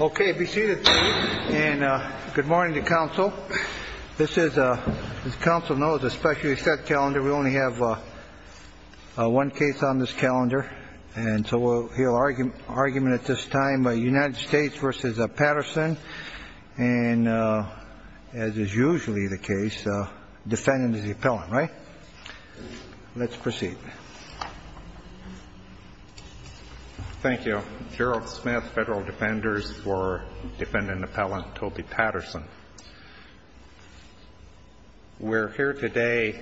Okay, be seated. And good morning to counsel. This is a, as counsel knows, a specially set calendar. We only have one case on this calendar. And so we'll hear argument at this time by United States v. Patterson. And as is usually the case, defendant is the appellant, right? Let's proceed. Thank you. Gerald Smith, Federal Defenders for Defendant Appellant Toby Patterson. We're here today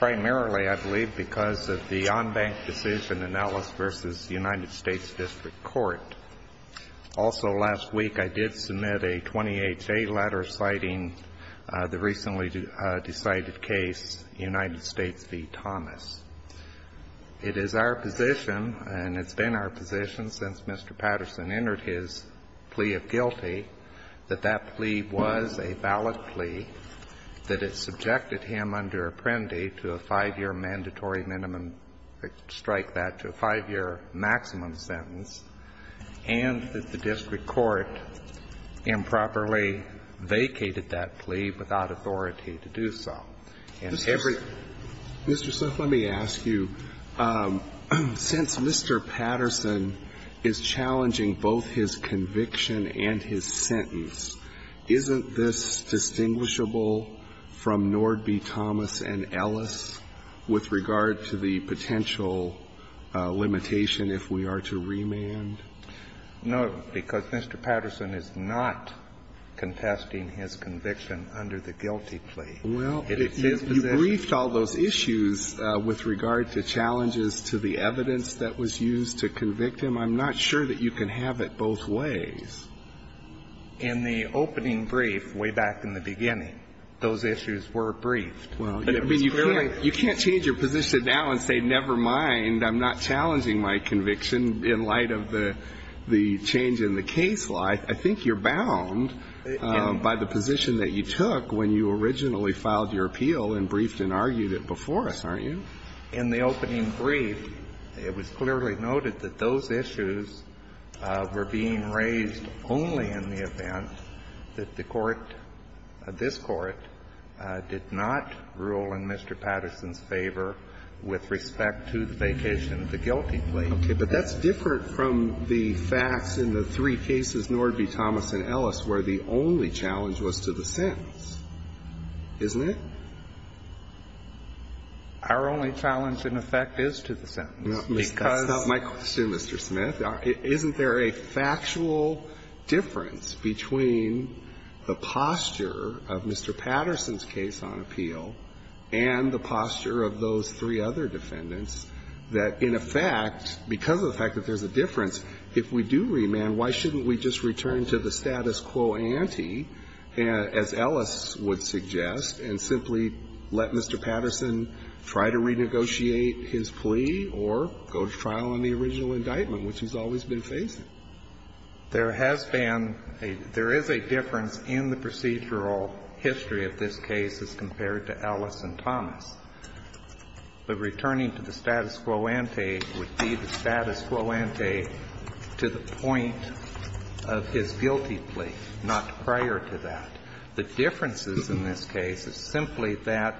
primarily, I believe, because of the on-bank decision in Ellis v. United States District Court. Also last week I did submit a 20HA letter citing the recently decided case, United States v. Thomas. It is our position, and it's been our position since Mr. Patterson entered his plea of guilty, that that plea was a valid plea, that it subjected him under Apprendi to a 5-year mandatory minimum strike, that to a 5-year maximum sentence, and that the district court improperly vacated that plea without authority to do so. And every Mr. Smith, let me ask you, since Mr. Patterson is challenging both his conviction and his sentence, isn't this distinguishable from Nord v. Thomas and Ellis with regard to the potential limitation if we are to remand? No, because Mr. Patterson is not contesting his conviction under the guilty plea. Well, you briefed all those issues with regard to challenges to the evidence that was used to convict him. I'm not sure that you can have it both ways. In the opening brief, way back in the beginning, those issues were briefed. Well, I mean, you can't change your position now and say, never mind, I'm not challenging my conviction in light of the change in the case law. I think you're bound by the position that you took when you originally filed your appeal and briefed and argued it before us, aren't you? In the opening brief, it was clearly noted that those issues were being raised only in the event that the court, this court, did not rule in Mr. Patterson's favor with respect to the vacation of the guilty plea. Okay. But that's different from the facts in the three cases, Nord v. Thomas and Ellis, where the only challenge was to the sentence, isn't it? Our only challenge, in effect, is to the sentence, because that's not my question, Mr. Smith. Isn't there a factual difference between the posture of Mr. Patterson's case on appeal and the posture of those three other defendants that, in effect, because of the fact that there's a difference, if we do remand, why shouldn't we just return to the status quo ante, as Ellis would suggest, and simply let Mr. Patterson try to renegotiate his plea or go to trial on the original indictment, which he's always been facing? There has been a – there is a difference in the procedural history of this case as compared to Ellis and Thomas. But returning to the status quo ante would be the status quo ante to the point of his guilty plea, not prior to that. The differences in this case is simply that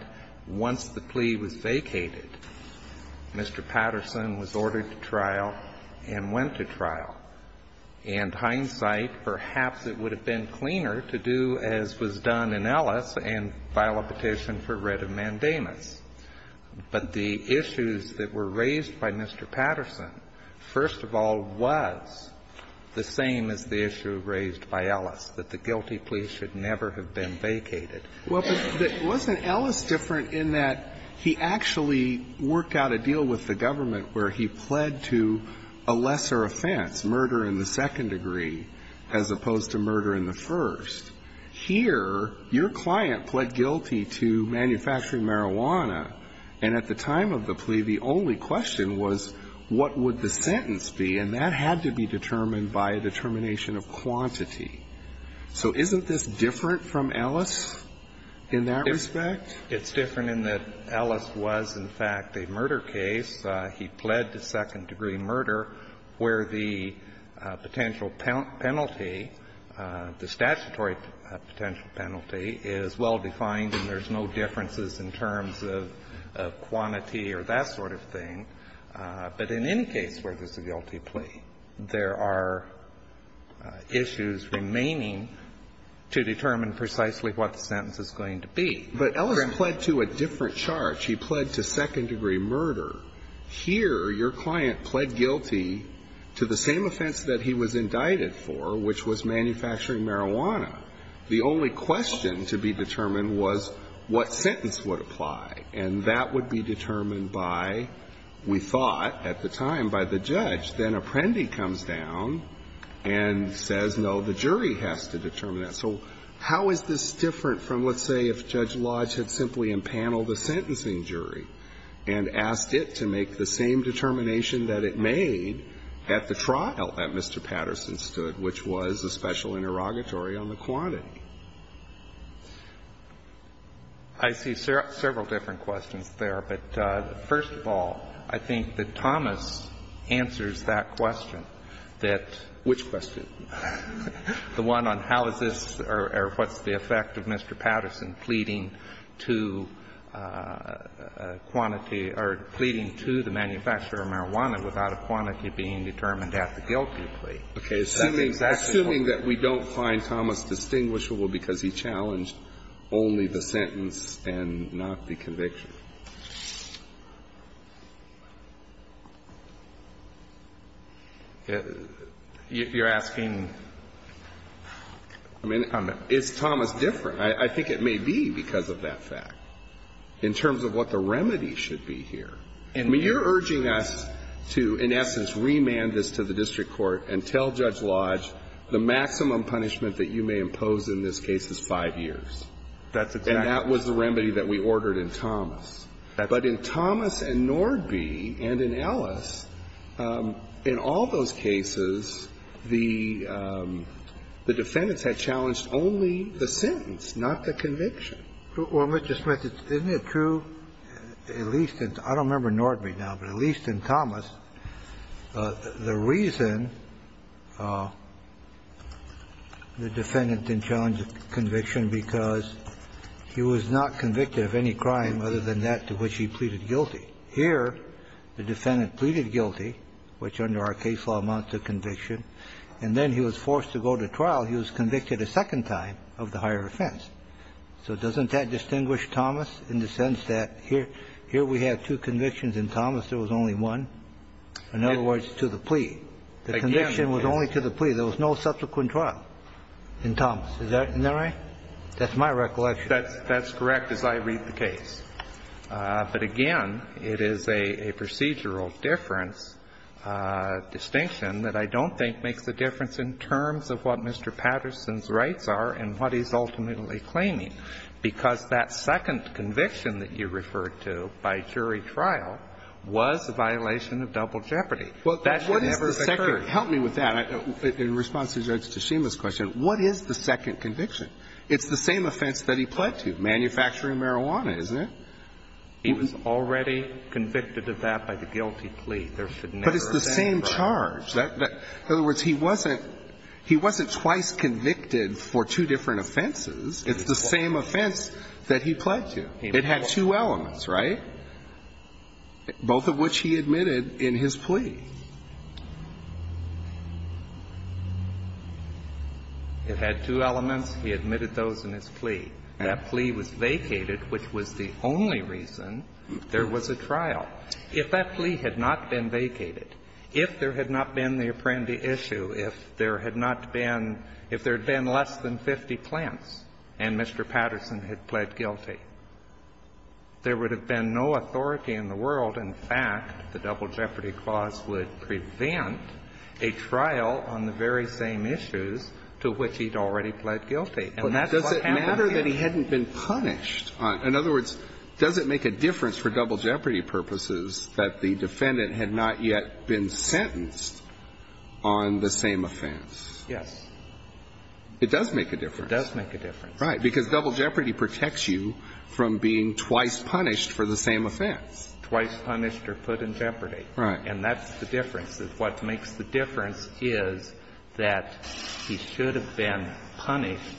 once the plea was vacated, Mr. Patterson was ordered to trial and went to trial. And hindsight, perhaps it would have been cleaner to do as was done in Ellis and file a petition for writ of mandamus. But the issues that were raised by Mr. Patterson, first of all, was the same as the issue raised by Ellis, that the guilty plea should never have been vacated. Well, but wasn't Ellis different in that he actually worked out a deal with the government where he pled to a lesser offense, murder in the second degree, as opposed to murder in the first? Here, your client pled guilty to manufacturing marijuana. And at the time of the plea, the only question was, what would the sentence be? And that had to be determined by a determination of quantity. So isn't this different from Ellis in that respect? It's different in that Ellis was, in fact, a murder case. He pled to second-degree murder where the potential penalty, the statutory potential penalty is well-defined and there's no differences in terms of quantity or that sort of thing. But in any case where there's a guilty plea, there are issues remaining to determine precisely what the sentence is going to be. But Ellis pled to a different charge. He pled to second-degree murder. Here, your client pled guilty to the same offense that he was indicted for, which was manufacturing marijuana. The only question to be determined was what sentence would apply. And that would be determined by, we thought at the time, by the judge. Then Apprendi comes down and says, no, the jury has to determine that. So how is this different from, let's say, if Judge Lodge had simply impaneled a sentencing jury and asked it to make the same determination that it made at the trial that Mr. Patterson stood, which was a special interrogatory on the quantity? I see several different questions there. But first of all, I think that Thomas answers that question, that the one on how is or what's the effect of Mr. Patterson pleading to quantity or pleading to the manufacturer of marijuana without a quantity being determined at the guilty plea. That's exactly what we're looking for. Kennedy, assuming that we don't find Thomas distinguishable because he challenged only the sentence and not the conviction. You're asking me, I mean, it's Thomas different, I think it may be because of that fact in terms of what the remedy should be here. I mean, you're urging us to, in essence, remand this to the district court and tell Judge Lodge the maximum punishment that you may impose in this case is five years. That's exactly what we're looking for. And that's the remedy that we ordered in Thomas. But in Thomas and Nordby and in Ellis, in all those cases, the defendants had challenged only the sentence, not the conviction. Well, Mr. Smith, isn't it true, at least in, I don't remember Nordby now, but at least in Thomas, the reason the defendant then challenged the conviction because he was not convicted of any crime other than that to which he pleaded guilty. Here, the defendant pleaded guilty, which under our case law amounts to conviction, and then he was forced to go to trial. He was convicted a second time of the higher offense. So doesn't that distinguish Thomas in the sense that here we have two convictions in Thomas, there was only one, in other words, to the plea. The conviction was only to the plea. There was no subsequent trial in Thomas. Isn't that right? That's my recollection. That's correct as I read the case. But again, it is a procedural difference, distinction that I don't think makes a difference in terms of what Mr. Patterson's rights are and what he's ultimately claiming, because that second conviction that you referred to by jury trial was a violation of double jeopardy. That should never have occurred. Well, what is the second – help me with that, in response to Judge Tshima's question. What is the second conviction? It's the same offense that he pled to, manufacturing marijuana, isn't it? He was already convicted of that by the guilty plea. There should never have been a second. It's the same charge. In other words, he wasn't twice convicted for two different offenses. It's the same offense that he pled to. It had two elements, right? Both of which he admitted in his plea. It had two elements. He admitted those in his plea. If that plea had not been vacated, if there had not been the Apprendi issue, if there had not been – if there had been less than 50 plants and Mr. Patterson had pled guilty, there would have been no authority in the world. In fact, the double jeopardy clause would prevent a trial on the very same issues to which he'd already pled guilty. And that's what happened here. But does it matter that he hadn't been punished? In other words, does it make a difference for double jeopardy purposes that the defendant had not yet been sentenced on the same offense? Yes. It does make a difference. It does make a difference. Right. Because double jeopardy protects you from being twice punished for the same offense. Twice punished or put in jeopardy. Right. And that's the difference. What makes the difference is that he should have been punished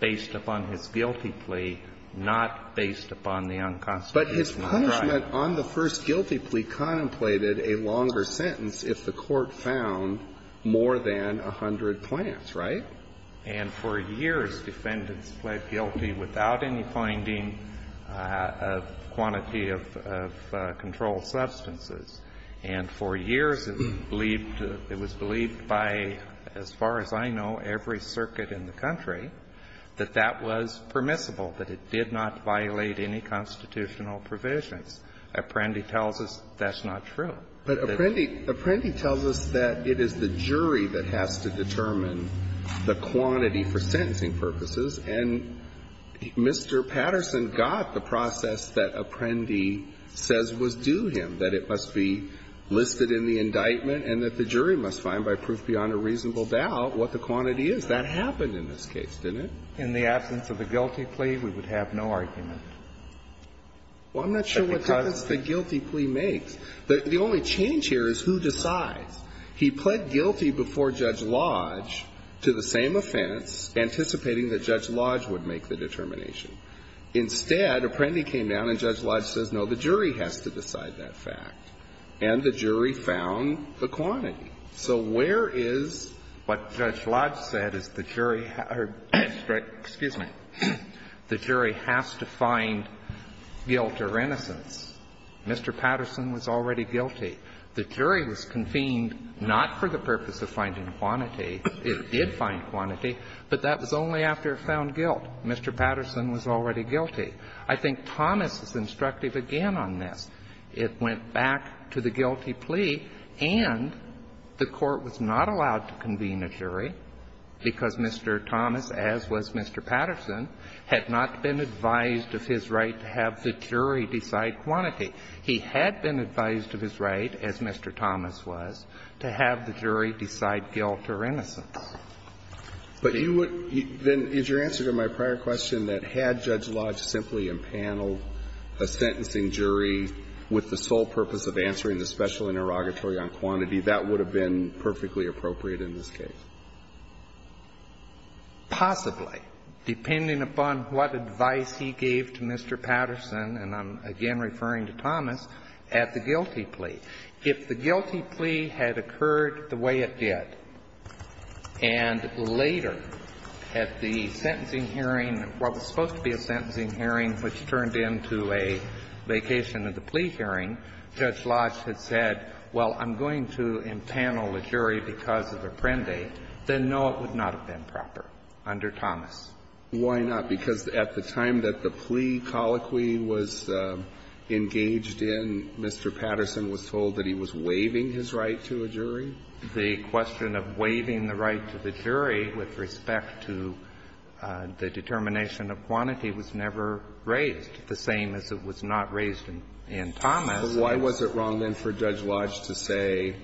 based upon his guilty plea, not based upon the unconstitutional drive. But his punishment on the first guilty plea contemplated a longer sentence if the Court found more than 100 plants, right? And for years, defendants pled guilty without any finding of quantity of controlled substances. And for years, it was believed by, as far as I know, every circuit in the country, that that was permissible, that it did not violate any constitutional provisions. Apprendi tells us that's not true. But Apprendi tells us that it is the jury that has to determine the quantity for sentencing purposes. And Mr. Patterson got the process that Apprendi says was due him, that it must be listed in the indictment and that the jury must find by proof beyond a reasonable doubt what the quantity is. But that happened in this case, didn't it? In the absence of the guilty plea, we would have no argument. Well, I'm not sure what difference the guilty plea makes. The only change here is who decides. He pled guilty before Judge Lodge to the same offense, anticipating that Judge Lodge would make the determination. Instead, Apprendi came down and Judge Lodge says, no, the jury has to decide that fact, and the jury found the quantity. So where is what Judge Lodge said is the jury has to find guilt or innocence? Mr. Patterson was already guilty. The jury was convened not for the purpose of finding quantity. It did find quantity, but that was only after it found guilt. Mr. Patterson was already guilty. I think Thomas is instructive again on this. It went back to the guilty plea, and the Court was not allowed to convene a jury because Mr. Thomas, as was Mr. Patterson, had not been advised of his right to have the jury decide quantity. He had been advised of his right, as Mr. Thomas was, to have the jury decide guilt or innocence. But you would then as your answer to my prior question that had Judge Lodge simply impaneled a sentencing jury with the sole purpose of answering the special interrogatory on quantity, that would have been perfectly appropriate in this case. Possibly, depending upon what advice he gave to Mr. Patterson, and I'm again referring to Thomas, at the guilty plea. If the guilty plea had occurred the way it did, and later at the sentencing hearing, which turned into a vacation of the plea hearing, Judge Lodge had said, well, I'm going to impanel a jury because of a prende, then no, it would not have been proper under Thomas. Why not? Because at the time that the plea colloquy was engaged in, Mr. Patterson was told that he was waiving his right to a jury? The question of waiving the right to the jury with respect to the determination of quantity was never raised, the same as it was not raised in Thomas. But why was it wrong, then, for Judge Lodge to say,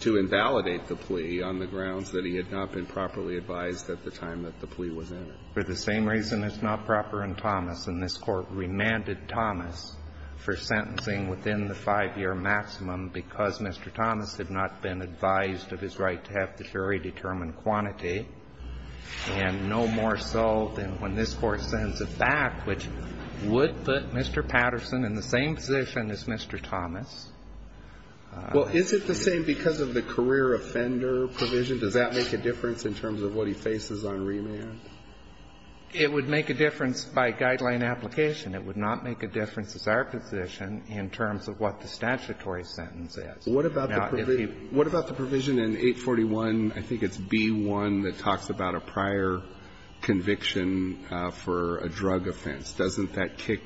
to invalidate the plea on the grounds that he had not been properly advised at the time that the plea was entered? For the same reason, it's not proper in Thomas. And this Court remanded Thomas for sentencing within the 5-year maximum because Mr. Thomas had not been advised of his right to have the jury determine quantity and no more so than when this Court sends it back, which would put Mr. Patterson in the same position as Mr. Thomas. Well, is it the same because of the career offender provision? Does that make a difference in terms of what he faces on remand? It would make a difference by guideline application. It would not make a difference as our position in terms of what the statutory sentence is. What about the provision in 841, I think it's B-1, that talks about a prior conviction for a drug offense. Doesn't that kick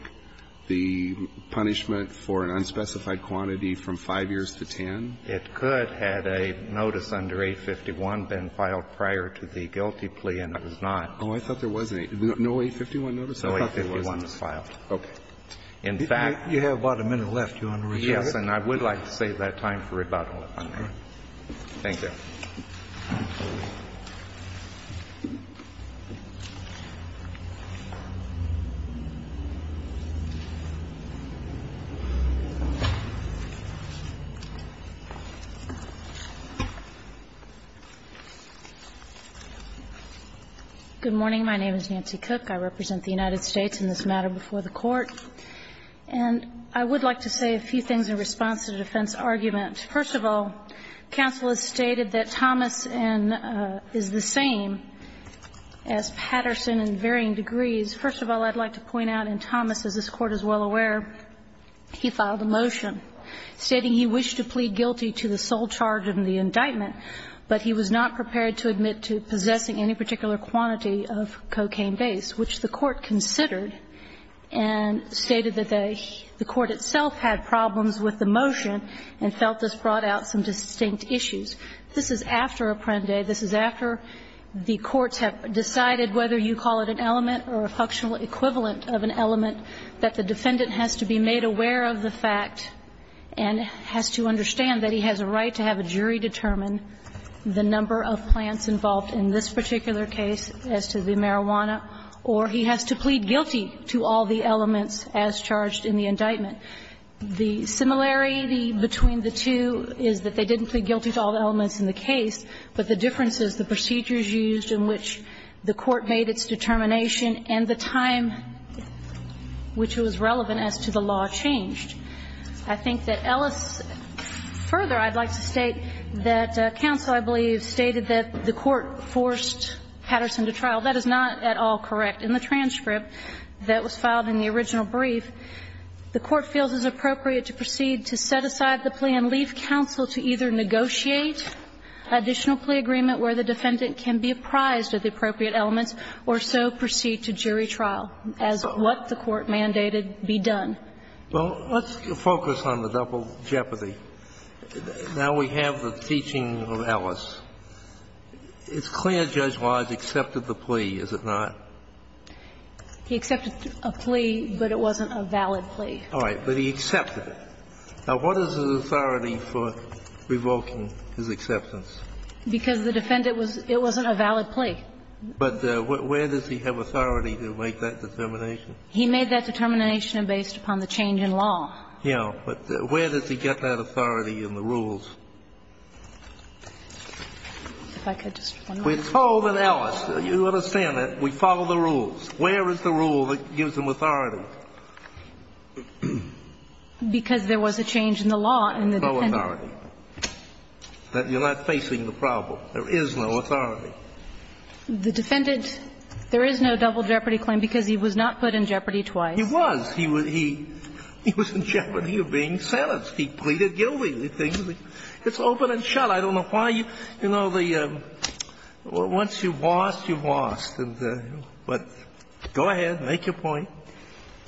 the punishment for an unspecified quantity from 5 years to 10? It could, had a notice under 851 been filed prior to the guilty plea, and it was not. Oh, I thought there was an 851. No 851 notice? No 851 was filed. Okay. In fact you have about a minute left, Your Honor. Yes, and I would like to save that time for rebuttal, if I may. Thank you. Good morning. My name is Nancy Cook. I represent the United States in this matter before the Court. And I would like to say a few things in response to the defense argument. First of all, counsel has stated that Thomas is the same as Patterson in varying degrees. First of all, I'd like to point out in Thomas, as this Court is well aware, he filed a motion stating he wished to plead guilty to the sole charge of the indictment, but he was not prepared to admit to possessing any particular quantity of cocaine based, which the Court considered and stated that the Court itself had problems with the motion and felt this brought out some distinct issues. This is after Apprende. This is after the courts have decided whether you call it an element or a functional equivalent of an element, that the defendant has to be made aware of the fact and has to understand that he has a right to have a jury determine the number of plants involved in this particular case as to the marijuana, or he has to plead guilty to all the elements as charged in the indictment. The similarity between the two is that they didn't plead guilty to all the elements in the case, but the difference is the procedures used in which the Court made its determination and the time which was relevant as to the law changed. I think that Ellis further, I'd like to state that counsel, I believe, stated that the Court forced Patterson to trial. That is not at all correct. In the transcript that was filed in the original brief, the Court feels it's appropriate to proceed to set aside the plea and leave counsel to either negotiate additional plea agreement where the defendant can be apprised of the appropriate elements or so proceed to jury trial as what the Court mandated be done. Well, let's focus on the double jeopardy. Now we have the teaching of Ellis. It's clear Judge Wise accepted the plea, is it not? He accepted a plea, but it wasn't a valid plea. All right. But he accepted it. Now, what is his authority for revoking his acceptance? Because the defendant was – it wasn't a valid plea. But where does he have authority to make that determination? He made that determination based upon the change in law. Yeah. But where does he get that authority in the rules? If I could just one more time. We're told in Ellis, you understand that, we follow the rules. Where is the rule that gives him authority? Because there was a change in the law in the defendant. No authority. You're not facing the problem. There is no authority. The defendant, there is no double jeopardy claim because he was not put in jeopardy twice. He was. He was in jeopardy of being sentenced. He pleaded guilty. It's open and shut. I don't know why you – you know, once you've lost, you've lost. But go ahead, make your point.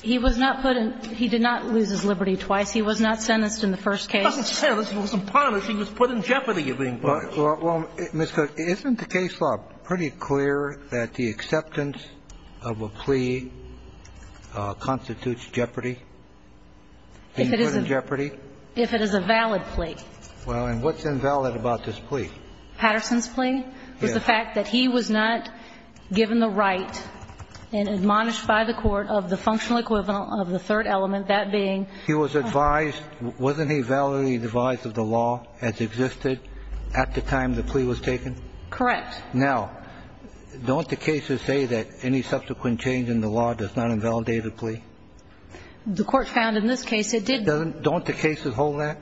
He was not put in – he did not lose his liberty twice. He was not sentenced in the first case. He wasn't sentenced. He wasn't punished. He was put in jeopardy of being punished. Well, Ms. Cook, isn't the case law pretty clear that the acceptance of a plea constitutes jeopardy? If it is a valid plea. Well, and what's invalid about this plea? Patterson's plea was the fact that he was not given the right and admonished by the court of the functional equivalent of the third element, that being – He was advised – wasn't he validly advised of the law as existed at the time the plea was taken? Correct. Now, don't the cases say that any subsequent change in the law does not invalidate a plea? The court found in this case it did. Doesn't – don't the cases hold that?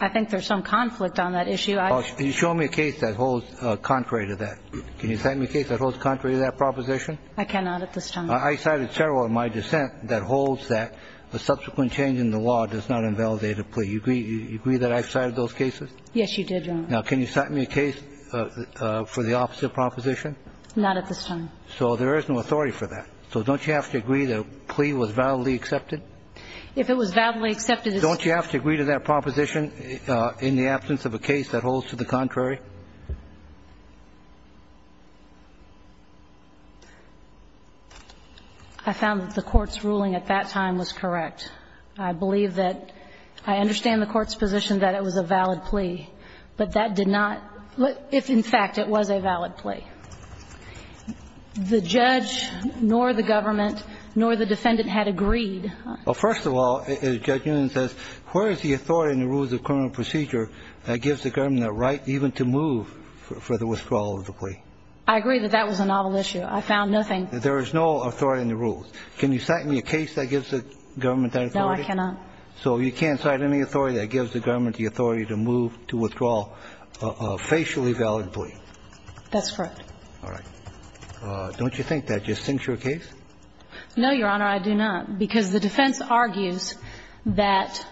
I think there's some conflict on that issue. You show me a case that holds contrary to that. Can you cite me a case that holds contrary to that proposition? I cannot at this time. I cited several in my dissent that holds that a subsequent change in the law does not invalidate a plea. You agree that I cited those cases? Yes, you did, Your Honor. Now, can you cite me a case for the opposite proposition? Not at this time. So there is no authority for that. So don't you have to agree that a plea was validly accepted? If it was validly accepted, it's – Don't you have to agree to that proposition in the absence of a case that holds to the contrary? I found that the Court's ruling at that time was correct. I believe that – I understand the Court's position that it was a valid plea, but that did not – if, in fact, it was a valid plea. The judge nor the government nor the defendant had agreed. Well, first of all, as Judge Unum says, where is the authority in the rules of criminal procedure that gives the government the right even to move for the withdrawal of the plea? I agree that that was a novel issue. I found nothing – There is no authority in the rules. Can you cite me a case that gives the government that authority? No, I cannot. So you can't cite any authority that gives the government the authority to move to withdraw a facially valid plea? That's correct. All right. Don't you think that just sinks your case? No, Your Honor, I do not, because the defense argues that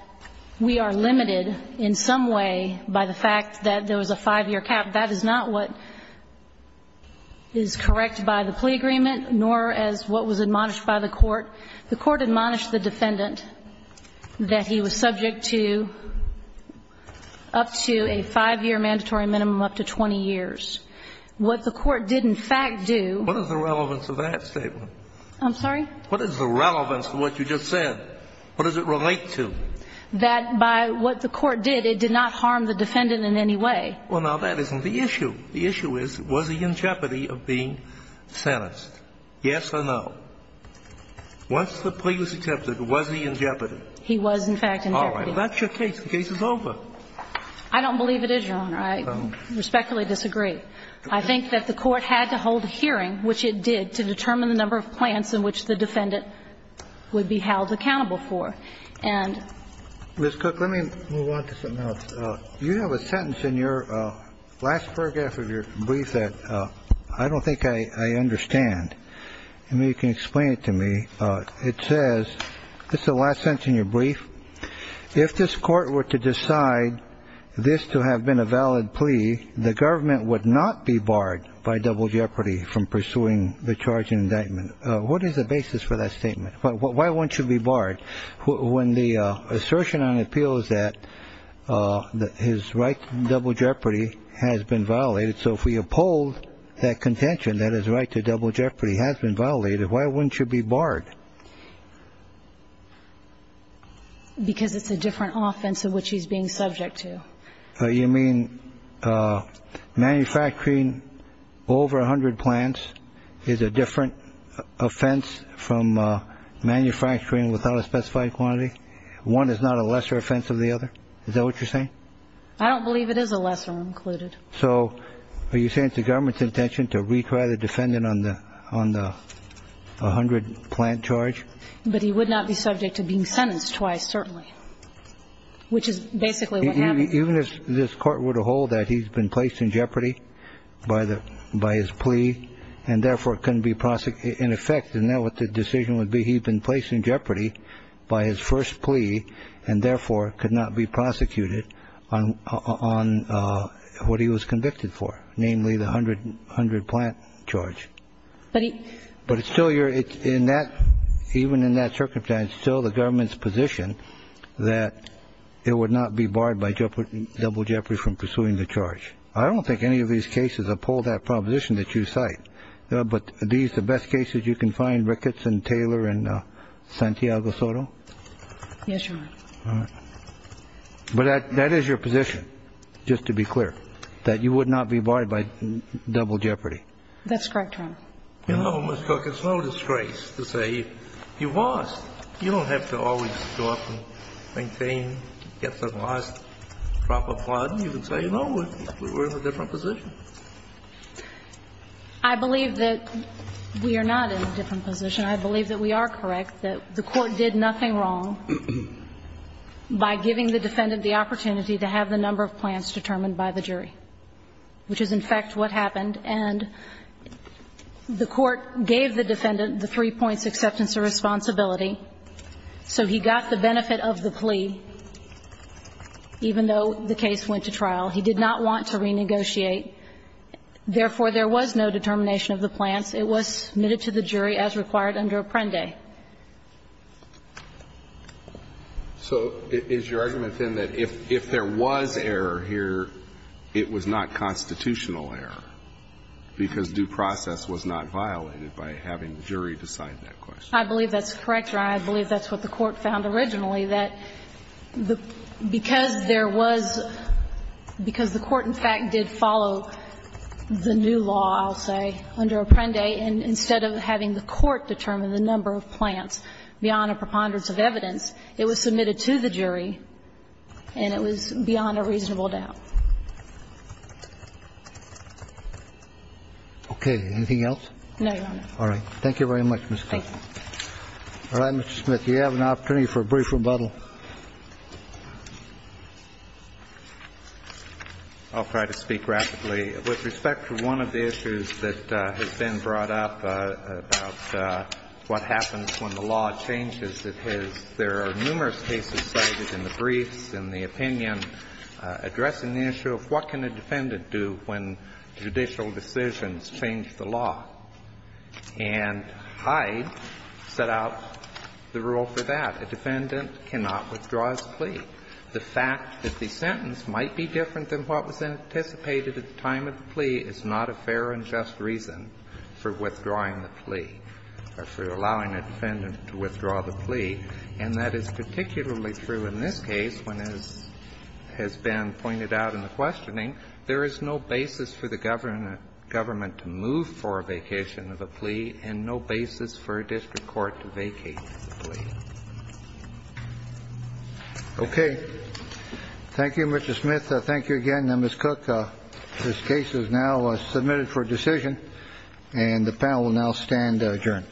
we are limited in saying in some way by the fact that there was a 5-year cap. That is not what is correct by the plea agreement, nor as what was admonished by the Court. The Court admonished the defendant that he was subject to up to a 5-year mandatory minimum up to 20 years. What the Court did, in fact, do – What is the relevance of that statement? I'm sorry? What is the relevance of what you just said? What does it relate to? That by what the Court did, it did not harm the defendant in any way. Well, now, that isn't the issue. The issue is, was he in jeopardy of being sentenced? Yes or no? Once the plea was accepted, was he in jeopardy? He was, in fact, in jeopardy. All right. Well, that's your case. The case is over. I don't believe it is, Your Honor. I respectfully disagree. I think that the Court had to hold a hearing, which it did, to determine the number of plants in which the defendant would be held accountable for. And – Ms. Cook, let me move on to something else. You have a sentence in your last paragraph of your brief that I don't think I understand. I mean, you can explain it to me. It says – this is the last sentence in your brief. If this Court were to decide this to have been a valid plea, the government would not be barred by double jeopardy from pursuing the charge and indictment. What is the basis for that statement? Why won't you be barred? When the assertion on appeal is that his right to double jeopardy has been violated, so if we uphold that contention that his right to double jeopardy has been violated, why wouldn't you be barred? Because it's a different offense in which he's being subject to. You mean manufacturing over 100 plants is a different offense from manufacturing without a specified quantity? One is not a lesser offense than the other? Is that what you're saying? I don't believe it is a lesser offense included. So are you saying it's the government's intention to retry the defendant on the 100-plant charge? But he would not be subject to being sentenced twice, certainly, which is basically what happened. Even if this Court were to hold that he's been placed in jeopardy by his plea and therefore couldn't be prosecuted, in effect, then what the decision would be, he'd been placed in jeopardy by his first plea and therefore could not be prosecuted on what he was convicted for, namely the 100-plant charge. But it's still your – even in that circumstance, it's still the government's position that it would not be barred by double jeopardy from pursuing the charge. I don't think any of these cases uphold that proposition that you cite. But are these the best cases you can find, Ricketts and Taylor and Santiago-Soto? Yes, Your Honor. All right. But that is your position, just to be clear, that you would not be barred by double jeopardy? That's correct, Your Honor. You know, Ms. Cook, it's no disgrace to say you've lost. You don't have to always go up and maintain, get the last drop of blood. You can say, no, we're in a different position. I believe that we are not in a different position. I believe that we are correct, that the Court did nothing wrong by giving the defendant the opportunity to have the number of plants determined by the jury, which is, in fact, what happened. And the Court gave the defendant the three-points acceptance of responsibility, so he got the benefit of the plea even though the case went to trial. He did not want to renegotiate. Therefore, there was no determination of the plants. It was submitted to the jury as required under Apprendi. So is your argument, then, that if there was error here, it was not constitutional error because due process was not violated by having the jury decide that question? I believe that's correct, Your Honor. And I believe that's what the Court found originally, that because there was – because the Court, in fact, did follow the new law, I'll say, under Apprendi, and instead of having the Court determine the number of plants beyond a preponderance of evidence, it was submitted to the jury, and it was beyond a reasonable doubt. Okay. Anything else? No, Your Honor. All right. Thank you very much, Ms. Clayton. All right, Mr. Smith, you have an opportunity for a brief rebuttal. I'll try to speak rapidly. With respect to one of the issues that has been brought up about what happens when the law changes, it has – there are numerous cases cited in the briefs and the opinion addressing the issue of what can a defendant do when judicial decisions change the law. And Hyde set out the rule for that. A defendant cannot withdraw his plea. The fact that the sentence might be different than what was anticipated at the time of the plea is not a fair and just reason for withdrawing the plea, or for allowing a defendant to withdraw the plea. And that is particularly true in this case when, as has been pointed out in the questioning, there is no basis for the government to move for a vacation of a plea and no basis for a district court to vacate the plea. Okay. Thank you, Mr. Smith. Thank you again. Ms. Cook, this case is now submitted for decision, and the panel will now stand adjourned.